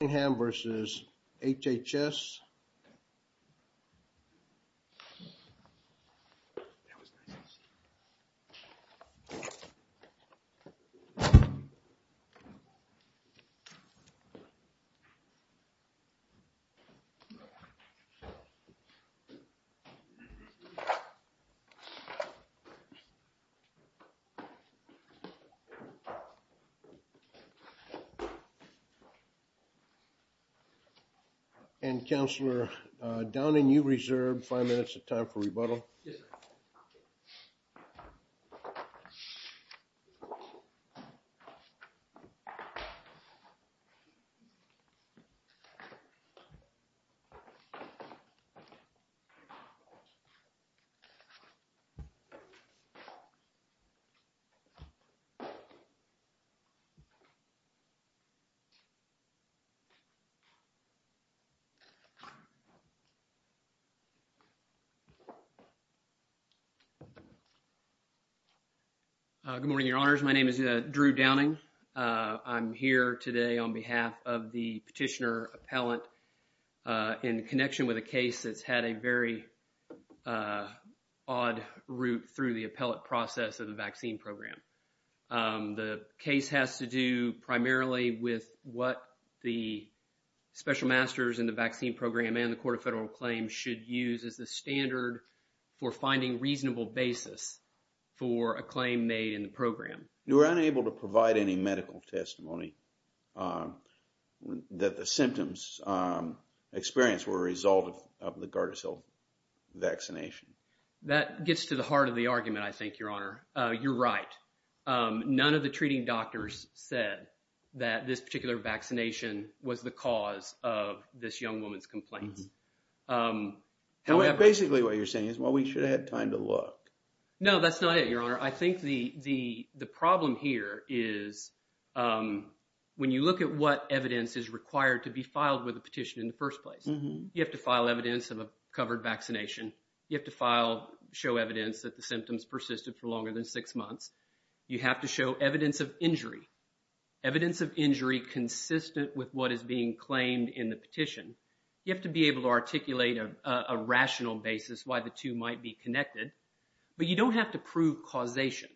Cottingham v. HHS Cottingham v. HHS Good morning, your honors. My name is Drew Downing. I'm here today on behalf of the petitioner appellant in connection with a case that's had a very odd route through the appellate special masters in the vaccine program and the court of federal claims should use as the standard for finding reasonable basis for a claim made in the program. You were unable to provide any medical testimony that the symptoms experienced were a result of the Gardasil vaccination. That gets to the heart of the argument, I think, your honor. You're right. None of the treating doctors said that this particular vaccination was the cause of this young woman's complaints. Basically, what you're saying is, well, we should have had time to look. No, that's not it, your honor. I think the problem here is when you look at what evidence is required to be filed with a petition in the first place, you have to file evidence of a covered vaccination. You have to file, show evidence that the symptoms persisted for longer than six months. You have to show evidence of injury, evidence of injury consistent with what is being claimed in the petition. You have to be able to articulate a rational basis why the two might be connected, but you don't have to prove causation.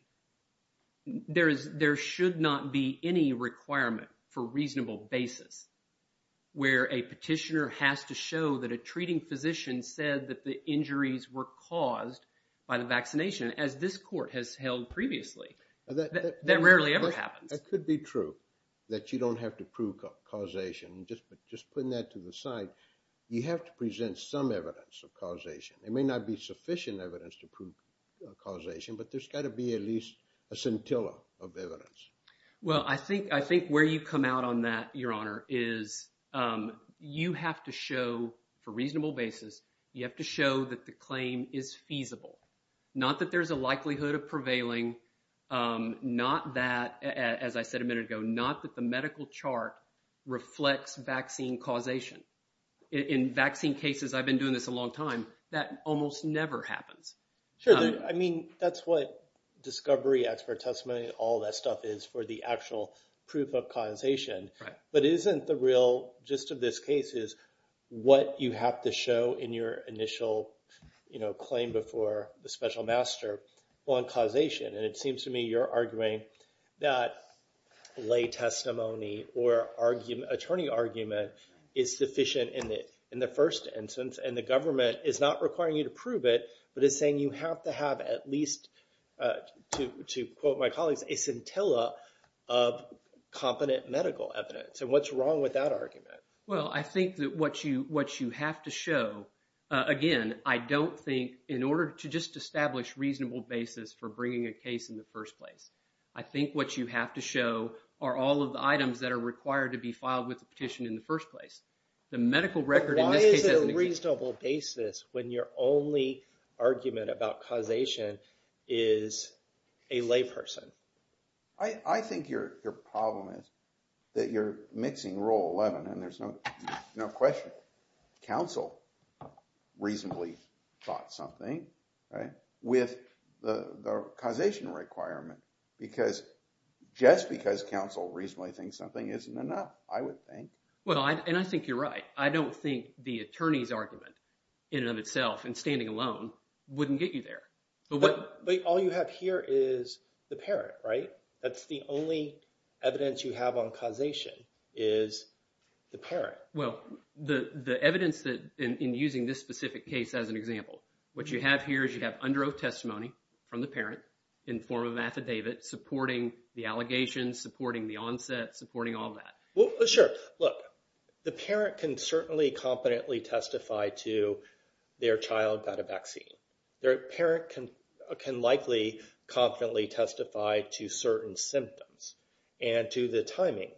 There should not be any requirement for reasonable basis where a petitioner has to show that a treating physician said that the injuries were caused by the vaccination as this court has held previously. That rarely ever happens. That could be true, that you don't have to prove causation. Just putting that to the side, you have to present some evidence of causation. There may not be sufficient evidence to prove causation, but there's got to be at least a scintilla of evidence. Well, I think where you come out on that, your honor, is you have to show for reasonable basis, you have to show that the claim is feasible. Not that there's a likelihood of prevailing, not that, as I said a minute ago, not that the medical chart reflects vaccine causation. In vaccine cases, I've been doing this a long time, that almost never happens. Sure. I mean, that's what discovery, expert testimony, all that stuff is for the actual proof of causation. But isn't the real gist of this case is what you have to show in your initial claim before the special master on causation. And it seems to me you're arguing that lay testimony or attorney argument is sufficient in the first instance, and the government is not requiring you to prove it, but is saying you have to have at least, to quote my colleagues, a scintilla of competent medical evidence. And what's wrong with that argument? Well, I think that what you have to show, again, I don't think in order to just establish reasonable basis for bringing a case in the first place, I think what you have to show are all of the items that are required to be filed with the petition in the first place. The medical record in this case- Why is it a reasonable basis when your only argument about causation is a lay person? I think your problem is that you're mixing rule 11 and there's no question. Counsel reasonably thought something with the causation requirement because just because counsel reasonably thinks something isn't enough, I would think. Well, and I think you're right. I don't think the attorney's argument in and of itself, and standing alone, wouldn't get you there. But all you have here is the parent, right? That's the only evidence you have on causation is the parent. Well, the evidence that in using this specific case as an example, what you have here is you have under oath testimony from the parent in form of affidavit supporting the allegations, supporting the onset, supporting all that. Well, sure. Look, the parent can certainly competently testify to their child got a vaccine. Their parent can likely competently testify to certain symptoms and to the timing.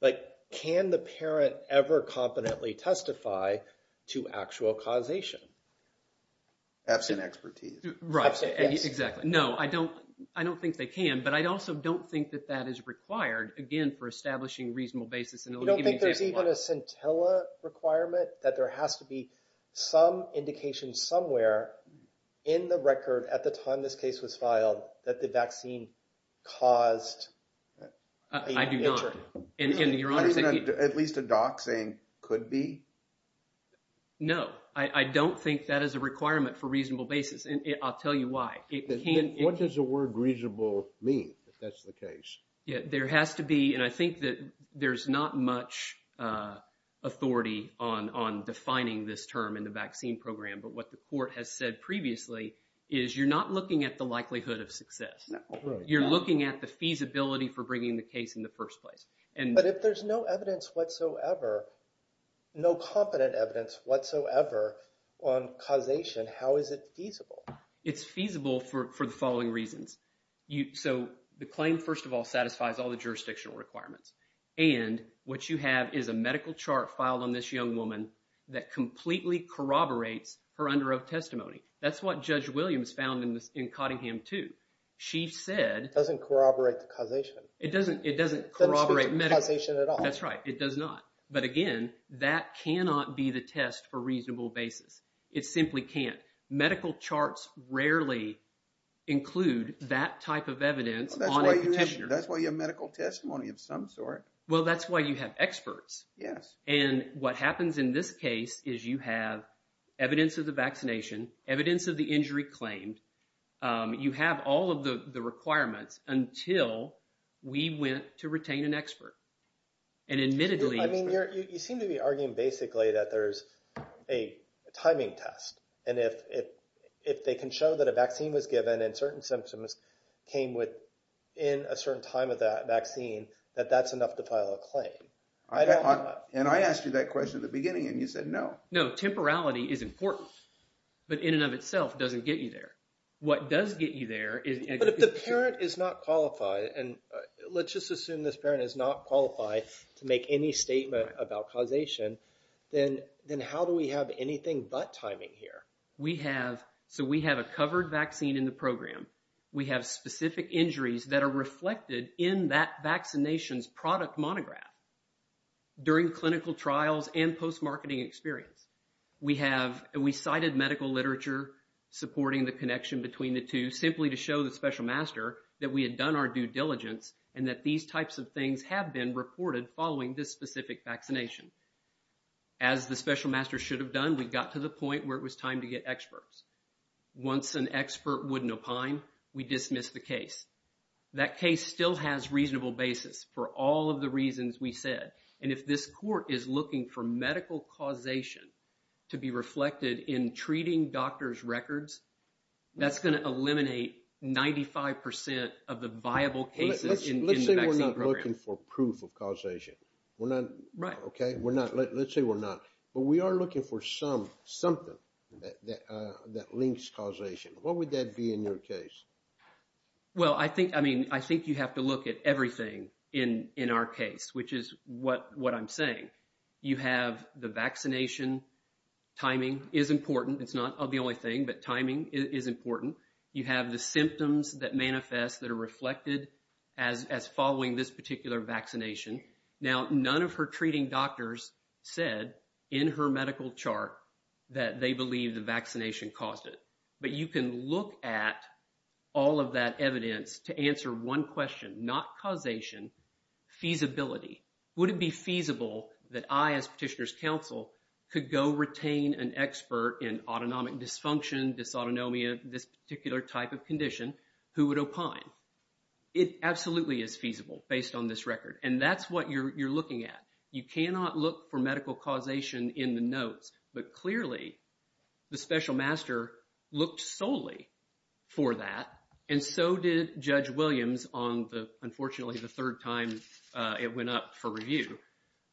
But can the parent ever competently testify to actual causation? Absent expertise. Right. Exactly. No, I don't think they can, but I also don't think that that is required, again, for establishing reasonable basis. You don't think there's even a scintilla requirement that there has to be some indication somewhere in the record at the time this case was filed that the vaccine caused- I do not. And your honor- At least a doxing could be? No, I don't think that is a requirement for reasonable basis, and I'll tell you why. What does the word reasonable mean, if that's the case? Yeah, there has to be, and I think that there's not much authority on defining this term in the vaccine program. But what the court has said previously is you're not looking at the likelihood of success. You're looking at the feasibility for bringing the case in the first place. But if there's no evidence whatsoever, no competent evidence whatsoever on causation, how is it feasible? It's feasible for the following reasons. So the claim, first of all, satisfies all the jurisdictional requirements. And what you have is a medical chart filed on this young woman that completely corroborates her under oath testimony. That's what Judge Williams found in Cottingham too. She said- It doesn't corroborate the causation. It doesn't corroborate medical- It doesn't speak to causation at all. That's right. It does not. But again, that cannot be the test for reasonable basis. It simply can't. Medical charts rarely include that type of evidence on a petitioner. That's why you have medical testimony of some sort. Well, that's why you have experts. Yes. And what happens in this case is you have evidence of the vaccination, evidence of the injury claimed. You have all of the requirements until we went to retain an expert. And admittedly- You seem to be arguing basically that there's a timing test. And if they can show that a vaccine was given and certain symptoms came within a certain time of that vaccine, that that's enough to file a claim. I don't know- And I asked you that question at the beginning and you said no. No. Temporality is important, but in and of itself doesn't get you there. What does get you there is- But if the parent is not qualified, and let's just assume this parent is not qualified to make any statement about causation, then how do we have anything but timing here? So we have a covered vaccine in the program. We have specific injuries that are reflected in that vaccination's product monograph during clinical trials and post-marketing experience. We cited medical literature supporting the connection between the two simply to show the special master that we had done our due diligence and that these types of things have been reported following this specific vaccination. As the special master should have done, we got to the point where it was time to get experts. Once an expert wouldn't opine, we dismiss the case. That case still has reasonable basis for all of the reasons we said. And if this court is looking for medical causation to be reflected in treating doctor's records, that's going to eliminate 95% of the viable cases in the vaccine program. We're not looking for proof of causation. We're not- Right. Okay. We're not. Let's say we're not. But we are looking for something that links causation. What would that be in your case? Well, I think you have to look at everything in our case, which is what I'm saying. You have the vaccination timing is important. It's not the only thing, but timing is important. You have the vaccination. Now, none of her treating doctors said in her medical chart that they believe the vaccination caused it. But you can look at all of that evidence to answer one question, not causation, feasibility. Would it be feasible that I, as petitioner's counsel, could go retain an expert in autonomic dysfunction, dysautonomia, this particular type of condition, who would opine? It absolutely is feasible based on this record. And that's what you're looking at. You cannot look for medical causation in the notes. But clearly, the special master looked solely for that. And so did Judge Williams on the, unfortunately, the third time it went up for review.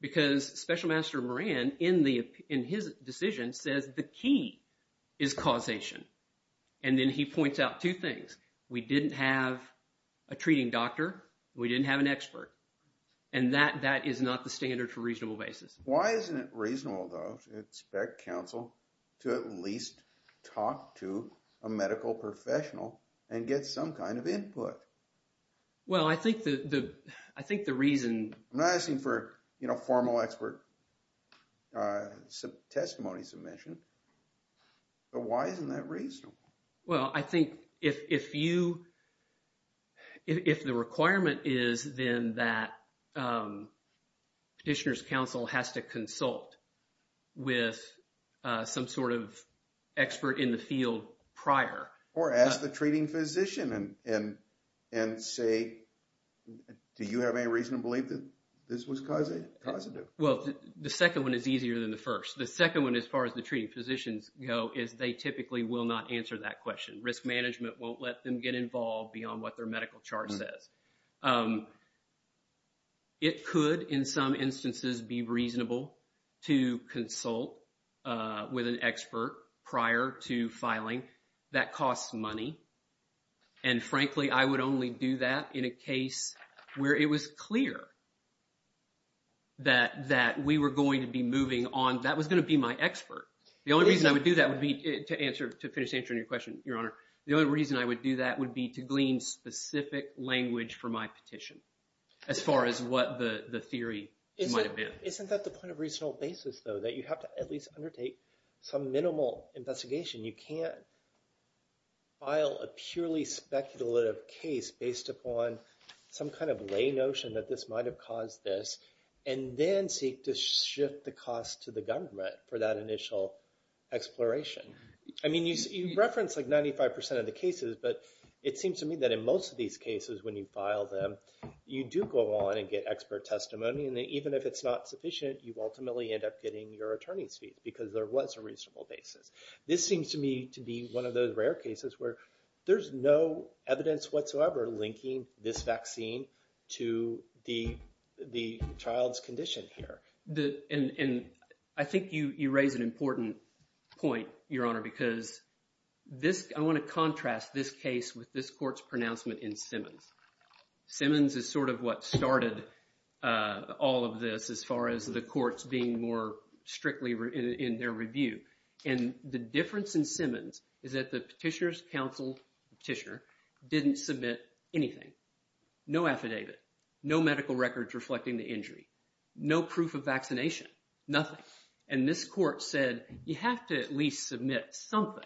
Because special master Moran, in his decision, says the key is causation. And then he points out two things. We didn't have a treating doctor. We didn't have an expert. And that is not the standard for reasonable basis. Why isn't it reasonable, though, to expect counsel to at least talk to a medical professional and get some kind of input? Well, I think the reason- I'm not asking for formal expert sub-testimony submission. But why isn't that reasonable? Well, I think if you- if the requirement is then that petitioner's counsel has to consult with some sort of expert in the field prior- Or ask the treating physician and say, do you have any reason to believe that this was causative? Well, the second one is easier than the first. The second one, as far as the treating physicians go, is they typically will not answer that question. Risk management won't let them get involved beyond what their medical chart says. It could, in some instances, be reasonable to consult with an expert prior to filing. That costs money. And frankly, I would only do that in a case where it was clear that we were going to be moving on- that was going to be my expert. The only reason I would do that would be to answer- to finish answering your question, Your Honor. The only reason I would do that would be to glean specific language for my petition, as far as what the theory might have been. Isn't that the point of reasonable basis, though? That you have to at least undertake some minimal investigation. You can't file a purely speculative case based upon some kind of lay notion that this might have caused this, and then seek to shift the cost to the government for that initial exploration. I mean, you referenced like 95% of the cases, but it seems to me that in most of these cases, when you file them, you do go on and get expert testimony. And even if it's not sufficient, you ultimately end up getting your attorney's fee, because there was a reasonable basis. This seems to me to be one of those rare cases where there's no evidence whatsoever linking this vaccine to the child's condition here. And I think you raise an important point, Your Honor, because this- I want to contrast this case with this court's pronouncement in Simmons. Simmons is sort of what started all of this, as far as the courts being more strictly in their review. And the difference in Simmons is that the petitioner's counsel, petitioner, didn't submit anything. No affidavit, no medical records reflecting the injury, no proof of vaccination, nothing. And this court said, you have to at least submit something.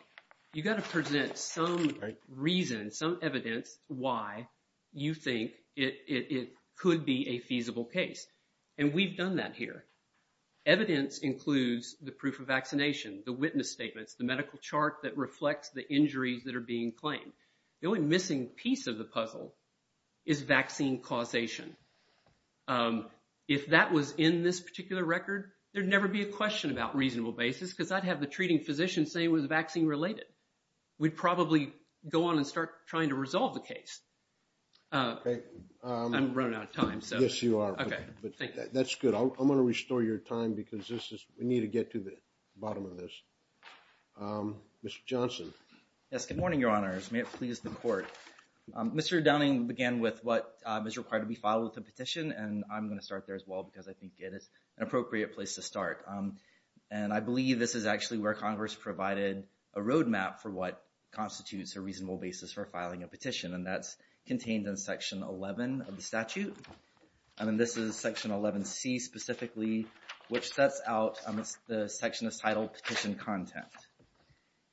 You've got to present some reason, some evidence, why you think it could be a feasible case. And we've done that here. Evidence includes the proof of vaccination, the witness statements, the medical chart that reflects the injuries that are being claimed. The only missing piece of the puzzle is vaccine causation. If that was in this particular record, there'd never be a question about reasonable basis, because I'd have the treating physician say it was vaccine-related. We'd probably go on and start trying to resolve the case. I'm running out of time. Yes, you are. But that's good. I'm going to restore your time, because we need to get to the bottom of this. Mr. Johnson. Yes, good morning, Your Honors. May it please the court. Mr. Downing began with what is required to be filed with a petition, and I'm going to start there as well, because I think it is an appropriate place to start. And I believe this is actually where Congress provided a roadmap for what constitutes a reasonable basis for filing a petition. And this is Section 11C specifically, which sets out the section that's titled Petition Content.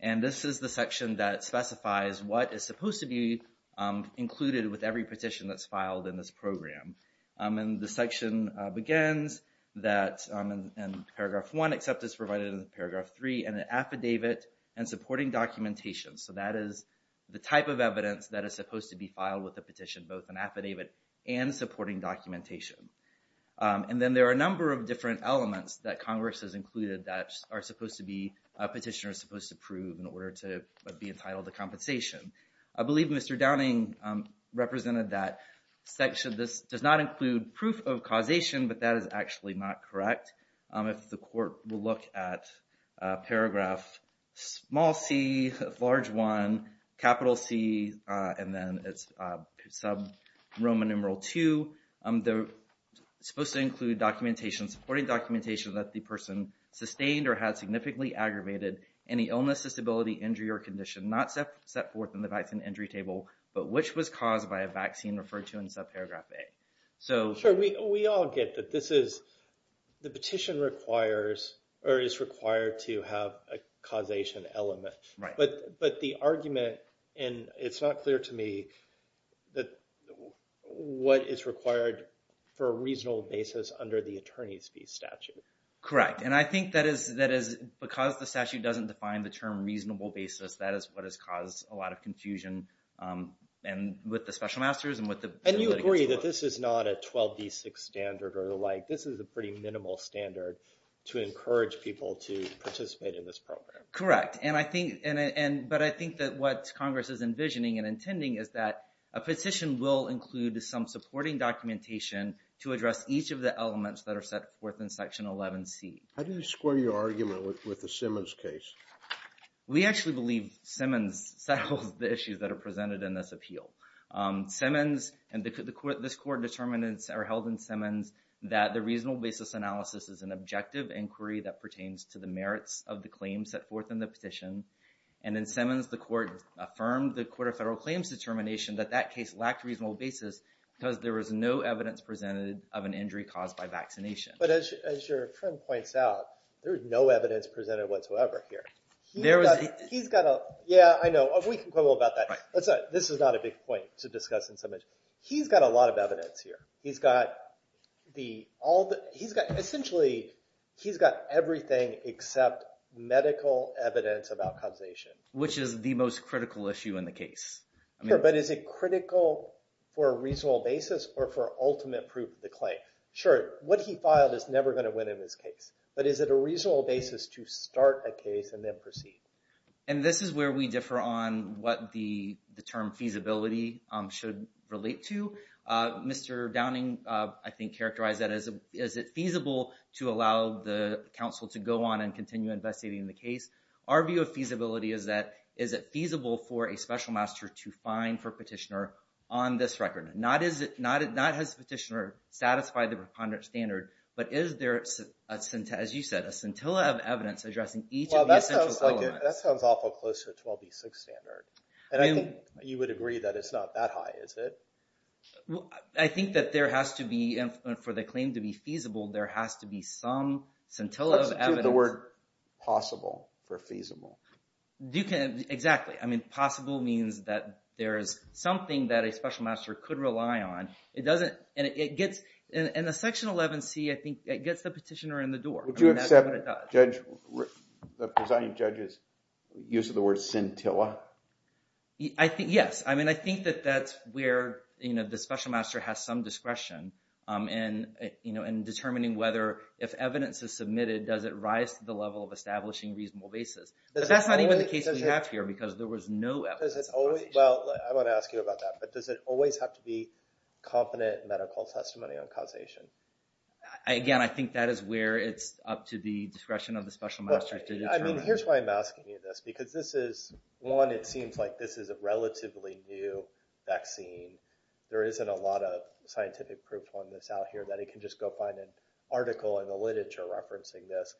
And this is the section that specifies what is supposed to be included with every petition that's filed in this program. And the section begins in paragraph one, except it's provided in paragraph three, an affidavit and supporting documentation. So that is the type of evidence that is supposed to be filed with a petition, both an affidavit and supporting documentation. And then there are a number of different elements that Congress has included that a petitioner is supposed to prove in order to be entitled to compensation. I believe Mr. Downing represented that section. This does not include proof of causation, but that is actually not correct. If the court will look at paragraph small c, large one, capital C, and then it's Roman numeral two, they're supposed to include documentation, supporting documentation that the person sustained or had significantly aggravated any illness, disability, injury, or condition not set forth in the vaccine entry table, but which was caused by a vaccine referred to in subparagraph A. Sure, we all get that this is, the petition requires or is required to have a causation element. But the argument, and it's not clear to me, that what is required for a reasonable basis under the attorney's fee statute. Correct. And I think that is because the statute doesn't define the term reasonable basis, that is what has caused a lot of confusion with the special masters and with the... And you agree that this is not a 12D6 standard or the like. This is a pretty minimal standard to encourage people to participate in this program. Correct. But I think that what Congress is envisioning and intending is that a petition will include some supporting documentation to address each of the elements that are set forth in section 11C. How do you square your argument with the Simmons case? We actually believe Simmons settles the issues that are presented in this appeal. Simmons and this court determinants are held in Simmons that the reasonable basis analysis is an objective inquiry that pertains to the merits of the claims set forth in the petition. And then Simmons, the court affirmed the Court of Federal Claims determination that that case lacked reasonable basis because there was no evidence presented of an injury caused by vaccination. But as your friend points out, there is no evidence presented whatsoever here. He's got a... Yeah, I know. We can go about that. This is not a big point to discuss in Simmons. He's got a lot of evidence here. Essentially, he's got everything except medical evidence about causation. Which is the most critical issue in the case. But is it critical for a reasonable basis or for ultimate proof of the claim? Sure, what he filed is never going to win in this case. But is it a reasonable basis to start a case and then proceed? And this is where we differ on what the term feasibility should relate to. Mr. Downing, I think, characterized that as, is it feasible to allow the counsel to go on and continue investigating the case? Our view of feasibility is that, is it feasible for a special master to find for petitioner on this record? Not has the petitioner satisfied the preponderance standard, but is there, as you said, a scintilla of evidence addressing each of the essential elements? That sounds awful close to a 12B6 standard. And I think you would agree that it's not that high, is it? I think that there has to be, for the claim to be feasible, there has to be some scintilla of evidence. The word possible for feasible. Exactly. I mean, possible means that there is something that a special master could rely on. It doesn't, and it gets, in the section 11C, I think, it gets the petitioner in the door. Would you accept the presiding judge's use of the word scintilla? Yes. I mean, I think that that's where the special master has some discretion in determining whether, if evidence is submitted, does it rise to the level of establishing reasonable basis? But that's not even the case that we have here, because there was no evidence of causation. Well, I want to ask you about that. But does it always have to be up to the discretion of the special master? I mean, here's why I'm asking you this, because this is, one, it seems like this is a relatively new vaccine. There isn't a lot of scientific proof on this out here that he can just go find an article in the literature referencing this.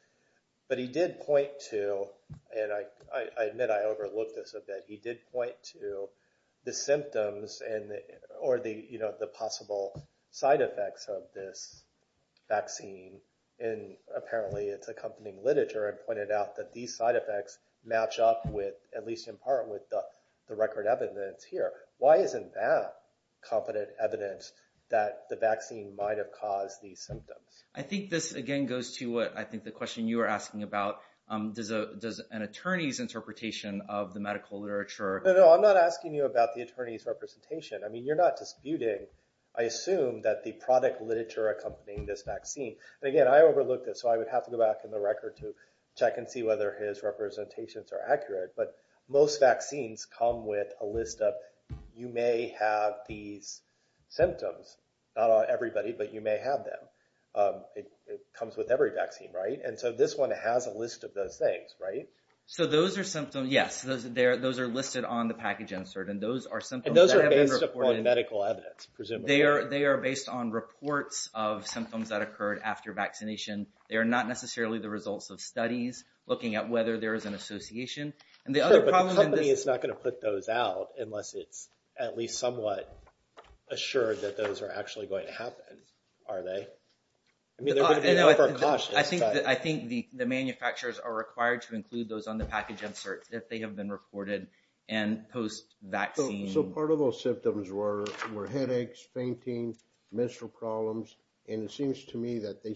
But he did point to, and I admit I overlooked this a bit, he did point to the symptoms or the possible side effects of this vaccine in, apparently, its accompanying literature, and pointed out that these side effects match up with, at least in part, with the record evidence here. Why isn't that confident evidence that the vaccine might have caused these symptoms? I think this, again, goes to what I think the question you were asking about. Does an attorney's interpretation of the medical literature— I'm not asking you about the attorney's representation. I mean, you're not disputing, I assume, that the product literature accompanying this vaccine. And again, I overlooked it, so I would have to go back in the record to check and see whether his representations are accurate. But most vaccines come with a list of, you may have these symptoms, not on everybody, but you may have them. It comes with every vaccine, right? And so this one has a package insert, and those are symptoms— And those are based upon medical evidence, presumably. They are based on reports of symptoms that occurred after vaccination. They are not necessarily the results of studies looking at whether there is an association. Sure, but the company is not going to put those out unless it's at least somewhat assured that those are actually going to happen, are they? I mean, they're going to be over-cautious. I think the manufacturers are required to post-vaccine. So part of those symptoms were headaches, fainting, menstrual problems, and it seems to me that they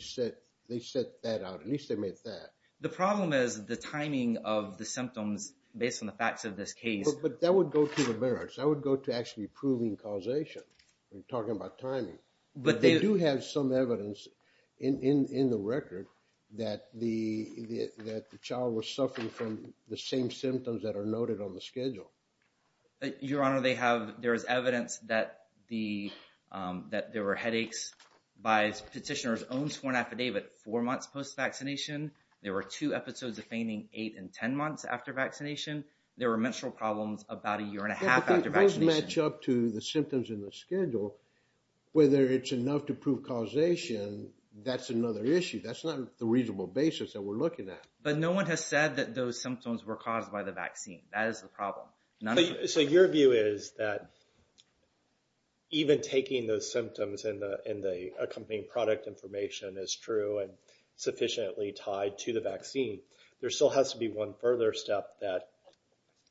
set that out. At least they made that. The problem is the timing of the symptoms based on the facts of this case. But that would go to the merits. That would go to actually proving causation. We're talking about timing. But they do have some evidence in the record that the child was vaccinated. Your Honor, there is evidence that there were headaches by petitioner's own sworn affidavit four months post-vaccination. There were two episodes of fainting, eight and 10 months after vaccination. There were menstrual problems about a year and a half after vaccination. Yeah, but those match up to the symptoms in the schedule. Whether it's enough to prove causation, that's another issue. That's not the reasonable basis that we're looking at. But no one has said that those symptoms were caused by the vaccine. That is the problem. So your view is that even taking those symptoms and the accompanying product information is true and sufficiently tied to the vaccine, there still has to be one further step that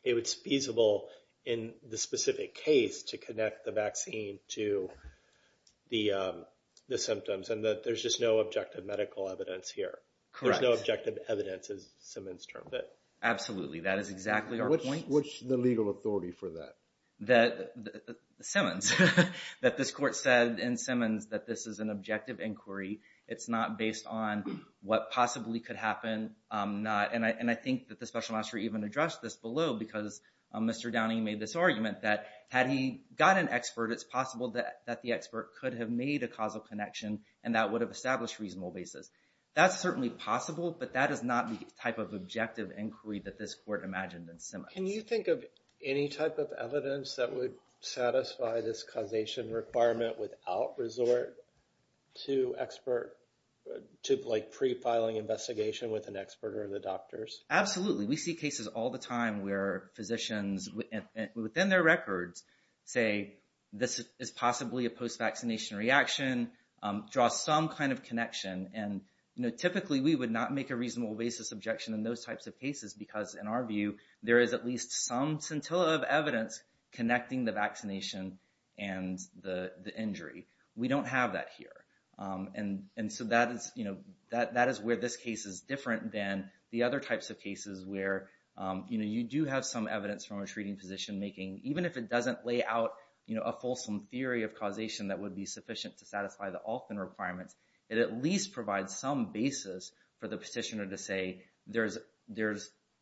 it's feasible in the specific case to connect the vaccine to the symptoms and that there's just no objective evidence here. There's no objective evidence, as Simmons termed it. Absolutely. That is exactly our point. What's the legal authority for that? Simmons. That this court said in Simmons that this is an objective inquiry. It's not based on what possibly could happen. And I think that the special magistrate even addressed this below because Mr. Downing made this argument that had he got an expert, it's possible that the expert could have made a causal connection and that established a reasonable basis. That's certainly possible, but that is not the type of objective inquiry that this court imagined in Simmons. Can you think of any type of evidence that would satisfy this causation requirement without resort to expert, to pre-filing investigation with an expert or the doctors? Absolutely. We see cases all the time where physicians, within their records, say this is possibly a post-vaccination reaction, draw some kind of connection. And typically we would not make a reasonable basis objection in those types of cases because in our view, there is at least some scintilla of evidence connecting the vaccination and the injury. We don't have that here. And so that is where this case is different than the other types of cases where you do have some evidence from a treating position making, even if it doesn't lay out a fulsome theory of causation that would be sufficient to satisfy the Alton requirements, it at least provides some basis for the petitioner to say there's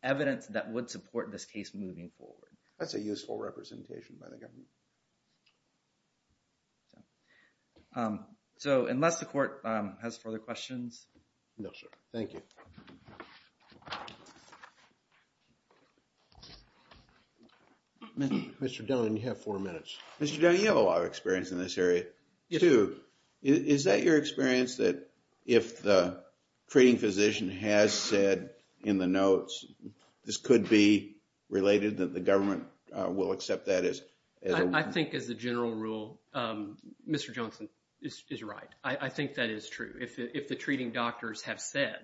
evidence that would support this case moving forward. That's a useful representation by the government. So unless the court has further questions. No, sir. Thank you. Mr. Dunn, you have four minutes. Mr. Dunn, you have a lot of experience in this area too. Is that your experience that if the treating physician has said in the notes, this could be related that the government will accept that as a rule? I think as a general rule, Mr. Johnson is right. I think that is true. If the treating doctors have said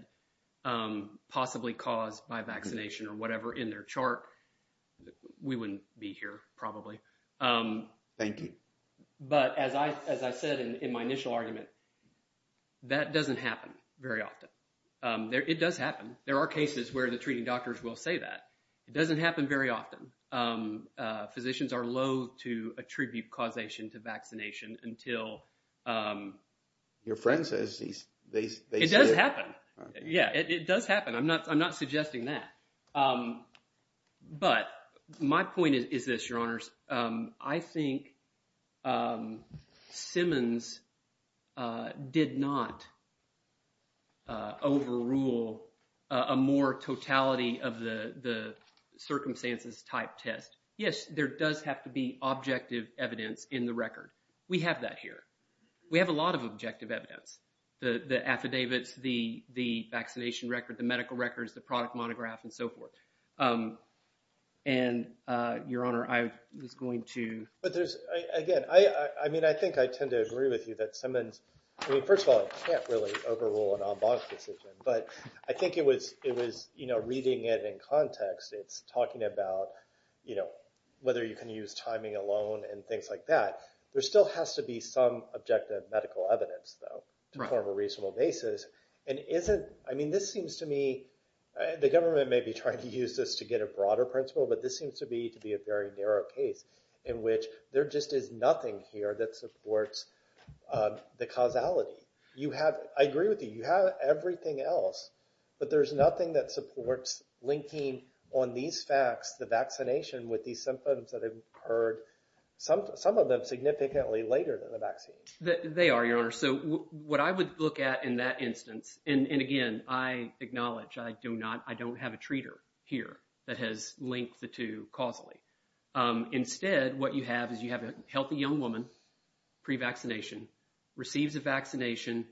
possibly caused by vaccination or whatever in their chart, we wouldn't be here probably. Thank you. But as I said in my initial argument, that doesn't happen very often. It does happen. There are cases where the treating doctors will say that. It doesn't happen very often. Physicians are loathe to attribute causation to vaccination until... Your friend says they say it. Yeah, it does happen. I'm not suggesting that. But my point is this, your honors. I think Simmons did not overrule a more totality of the circumstances type test. Yes, there does have to be objective evidence in the record. We have that here. We have a lot of objective evidence. The affidavits, the vaccination record, the medical records, the product monograph, and so forth. And your honor, I was going to... But again, I think I tend to agree with you that Simmons... First of all, I can't really overrule an en banc decision, but I think it was reading it in context. It's talking about whether you can use timing alone and things like that. There still has to be some objective medical evidence though to form a reasonable basis. I mean, this seems to me... The government may be trying to use this to get a broader principle, but this seems to be to be a very narrow case in which there just is nothing here that supports the causality. I agree with you. You have everything else, but there's nothing that supports linking on these facts, the vaccination with these symptoms that have occurred, some of them significantly later than the vaccine. They are, your honor. So what I would look at in that instance, and again, I acknowledge I don't have a treater here that has linked the two causally. Instead, what you have is you have a healthy young woman, pre-vaccination, receives a vaccination,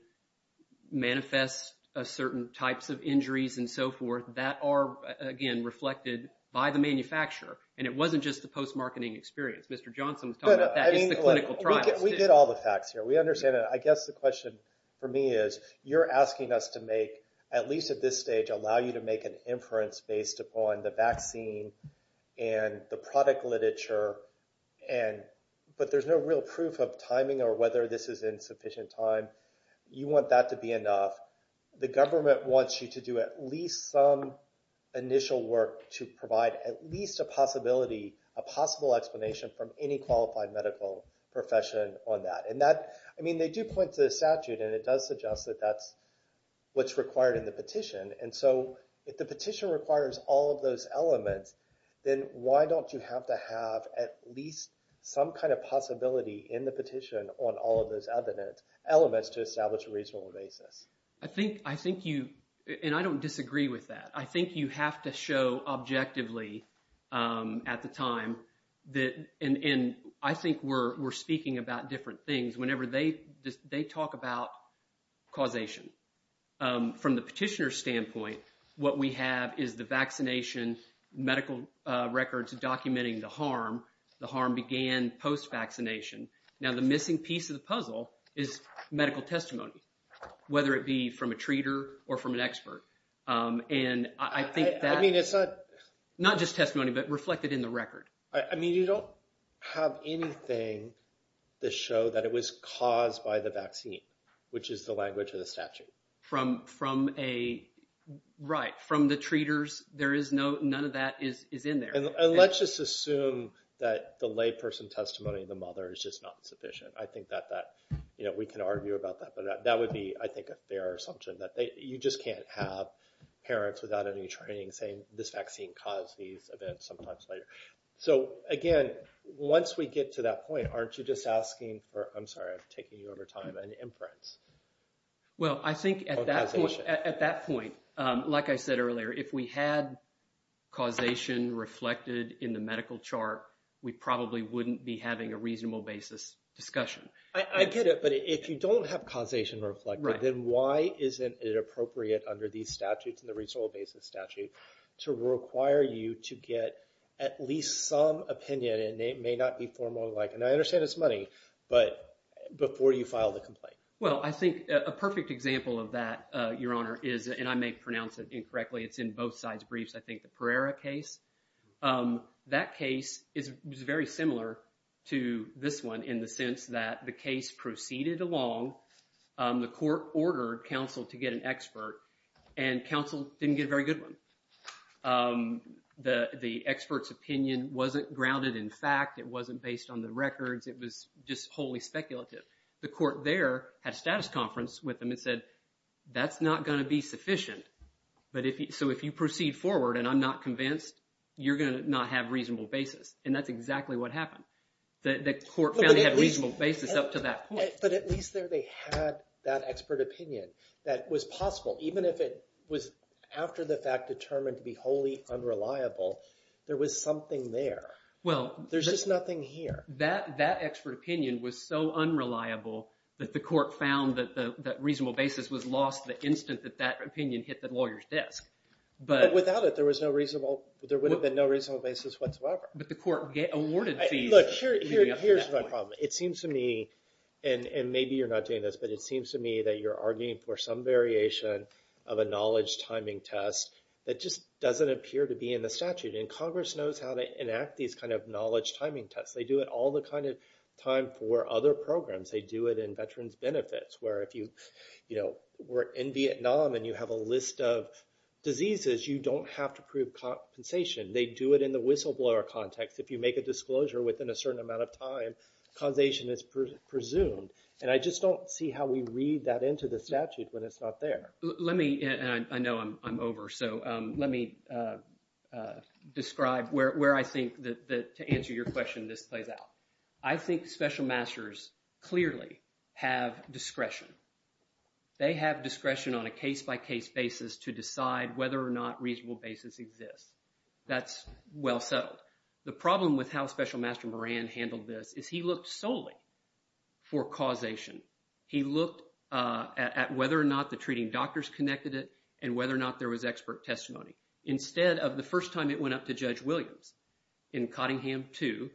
manifests a certain types of injuries and so forth that are, again, reflected by the manufacturer. And it wasn't just the post-marketing experience. Mr. Johnson was talking about that. It's the clinical trials. We get all the facts here. We understand that. I guess the question for me is, you're asking us to make, at least at this stage, allow you to make an inference based upon the vaccine and the product literature, but there's no real proof of timing or whether this is insufficient time. You want that to be enough. The government wants you to do at least some initial work to provide at least a possible explanation from any qualified medical profession on that. And that, I mean, they do point to the statute and it does suggest that that's what's required in the petition. And so if the petition requires all of those elements, then why don't you have to have at least some kind of possibility in the petition on all of those elements to establish a reasonable basis? I think you, and I don't disagree with that. I think you have to show objectively at the time that, and I think we're speaking about different things whenever they talk about causation. From the petitioner's standpoint, what we have is the vaccination, medical records documenting the harm. The harm began post-vaccination. Now the missing piece of the from a treater or from an expert. And I think that... I mean, it's not... Not just testimony, but reflected in the record. I mean, you don't have anything to show that it was caused by the vaccine, which is the language of the statute. Right. From the treaters, none of that is in there. And let's just assume that the layperson testimony, the mother is just not sufficient. I think that we can argue about that, but that would be, I think, a fair assumption that you just can't have parents without any training saying this vaccine caused these events sometimes later. So again, once we get to that point, aren't you just asking for, I'm sorry, I'm taking you over time, an inference? Well, I think at that point, like I said earlier, if we had causation reflected in the medical chart, we probably wouldn't be having a reasonable basis discussion. I get it. But if you don't have causation reflected, then why isn't it appropriate under these statutes and the reasonable basis statute to require you to get at least some opinion? And it may not be formal like, and I understand it's money, but before you file the complaint. Well, I think a perfect example of that, Your Honor, is, and I may pronounce it incorrectly, it's in both sides briefs, I think the Pereira case. That case is very similar to this one in the sense that the case proceeded along, the court ordered counsel to get an expert, and counsel didn't get a very good one. The expert's opinion wasn't grounded in fact, it wasn't based on the records, it was just wholly speculative. The court there had a status conference with them and said, that's not going to be sufficient. So if you proceed forward and I'm not convinced, you're going to not have reasonable basis. And that's exactly what happened. The court found they had a reasonable basis up to that point. But at least there they had that expert opinion that was possible, even if it was after the fact determined to be wholly unreliable, there was something there. There's just nothing here. That expert opinion was so unreliable that the court found that that reasonable basis was lost the instant that that opinion hit the lawyer's desk. But without it, there would have been no reasonable basis whatsoever. But the court awarded fees. Look, here's my problem. It seems to me, and maybe you're not doing this, but it seems to me that you're arguing for some variation of a knowledge timing test that just doesn't appear to be in the statute. And Congress knows how to enact these kind of knowledge timing tests. They do it all the time for other programs. They do it in Veterans Benefits, where if you were in Vietnam and you have a list of diseases, you don't have to prove compensation. They do it in the whistleblower context. If you make a disclosure within a certain amount of time, compensation is presumed. And I just don't see how we read that into the statute when it's not there. Let me, and I know I'm over, so let me describe where I think that, to answer your question, this plays out. I think special masters clearly have discretion. They have discretion on a case-by-case basis to decide whether or not reasonable basis exists. That's well settled. The problem with how Special Master Moran handled this is he looked solely for causation. He looked at whether or not the treating doctors connected it and whether or not there was expert testimony. Instead of the first time it went up to Judge Williams in Cottingham II,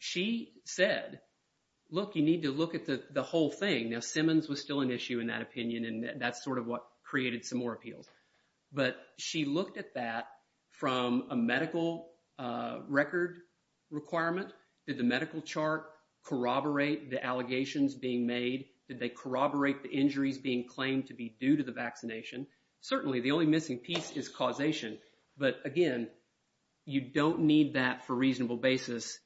she said, look, you need to look at the whole thing. Now, Simmons was still an issue in that from a medical record requirement. Did the medical chart corroborate the allegations being made? Did they corroborate the injuries being claimed to be due to the vaccination? Certainly, the only missing piece is causation. But again, you don't need that for reasonable basis.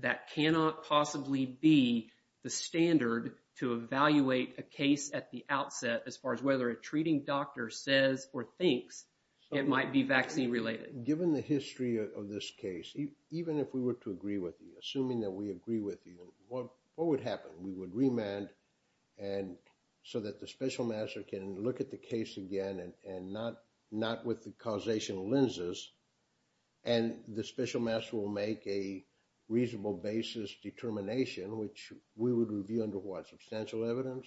That cannot possibly be the standard to evaluate a case at the outset as far as whether a treating doctor says or thinks it might be vaccine-related. Given the history of this case, even if we were to agree with you, assuming that we agree with you, what would happen? We would remand so that the special master can look at the case again and not with the causation lenses. And the special master will make a reasonable basis determination, which we would review under what, substantial evidence?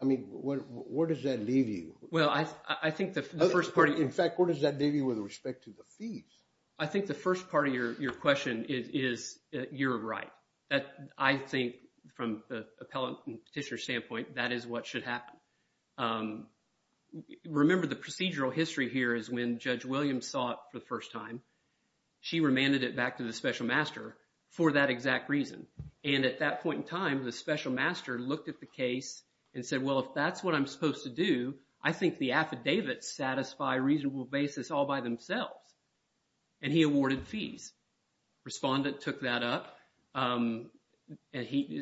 I mean, where does that leave you? Well, I think the first part... In fact, where does that leave you with respect to the fees? I think the first part of your question is you're right. I think from the appellate and petitioner standpoint, that is what should happen. Remember, the procedural history here is when Judge Williams saw it for the first time, she remanded it back to the special master for that exact reason. And at that point in time, the special master looked at the case and said, well, if that's what I'm supposed to do, I think the affidavits satisfy a reasonable basis all by themselves. And he awarded fees. Respondent took that up and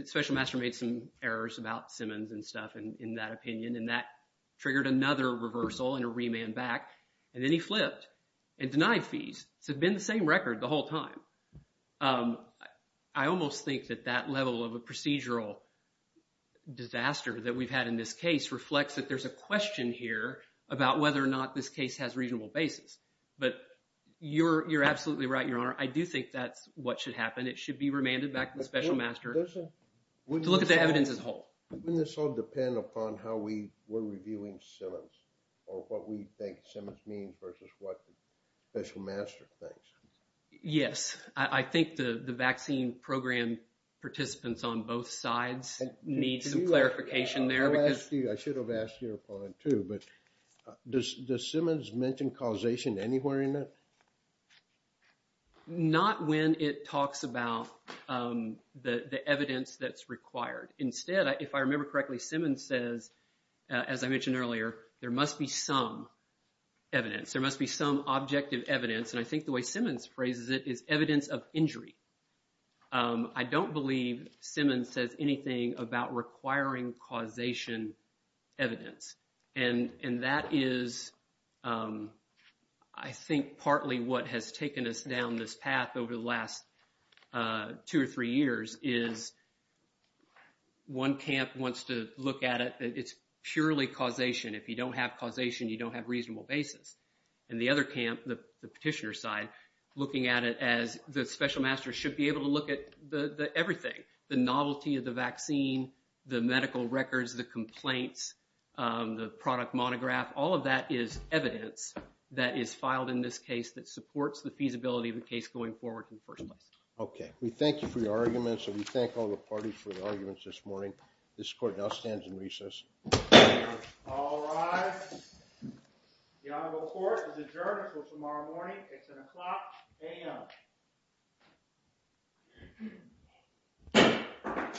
special master made some errors about Simmons and stuff in that opinion, and that triggered another reversal and a remand back. And then he flipped and denied fees. So it'd been the same record the whole time. I almost think that that level of a procedural disaster that we've had in this case reflects that there's a question here about whether or not this case has reasonable basis. But you're absolutely right, Your Honor. I do think that's what should happen. It should be remanded back to the special master to look at the evidence as a whole. Wouldn't this all depend upon how we were reviewing Simmons or what we think Simmons means versus what the special master thinks? Yes. I think the vaccine program participants on both sides need some clarification there. I should have asked your point too, but does Simmons mention causation anywhere in that? Not when it talks about the evidence that's required. Instead, if I remember correctly, Simmons says, as I mentioned earlier, there must be some evidence. There must be some objective evidence. And I think the way Simmons phrases it is evidence of injury. I don't believe Simmons says anything about requiring causation evidence. And that is, I think, partly what has taken us down this path over the last two or three years is one camp wants to look at it. It's purely causation. If you don't have causation, you don't have reasonable basis. And the other camp, the petitioner side, looking at it as the special master should be able to look at everything, the novelty of the vaccine, the medical records, the complaints, the product monograph. All of that is evidence that is filed in this case that supports the feasibility of the case going forward in the first place. Okay. We thank you for your argument. So we thank all the parties for recess. All right. The honorable court is adjourned for tomorrow morning. It's an o'clock a.m.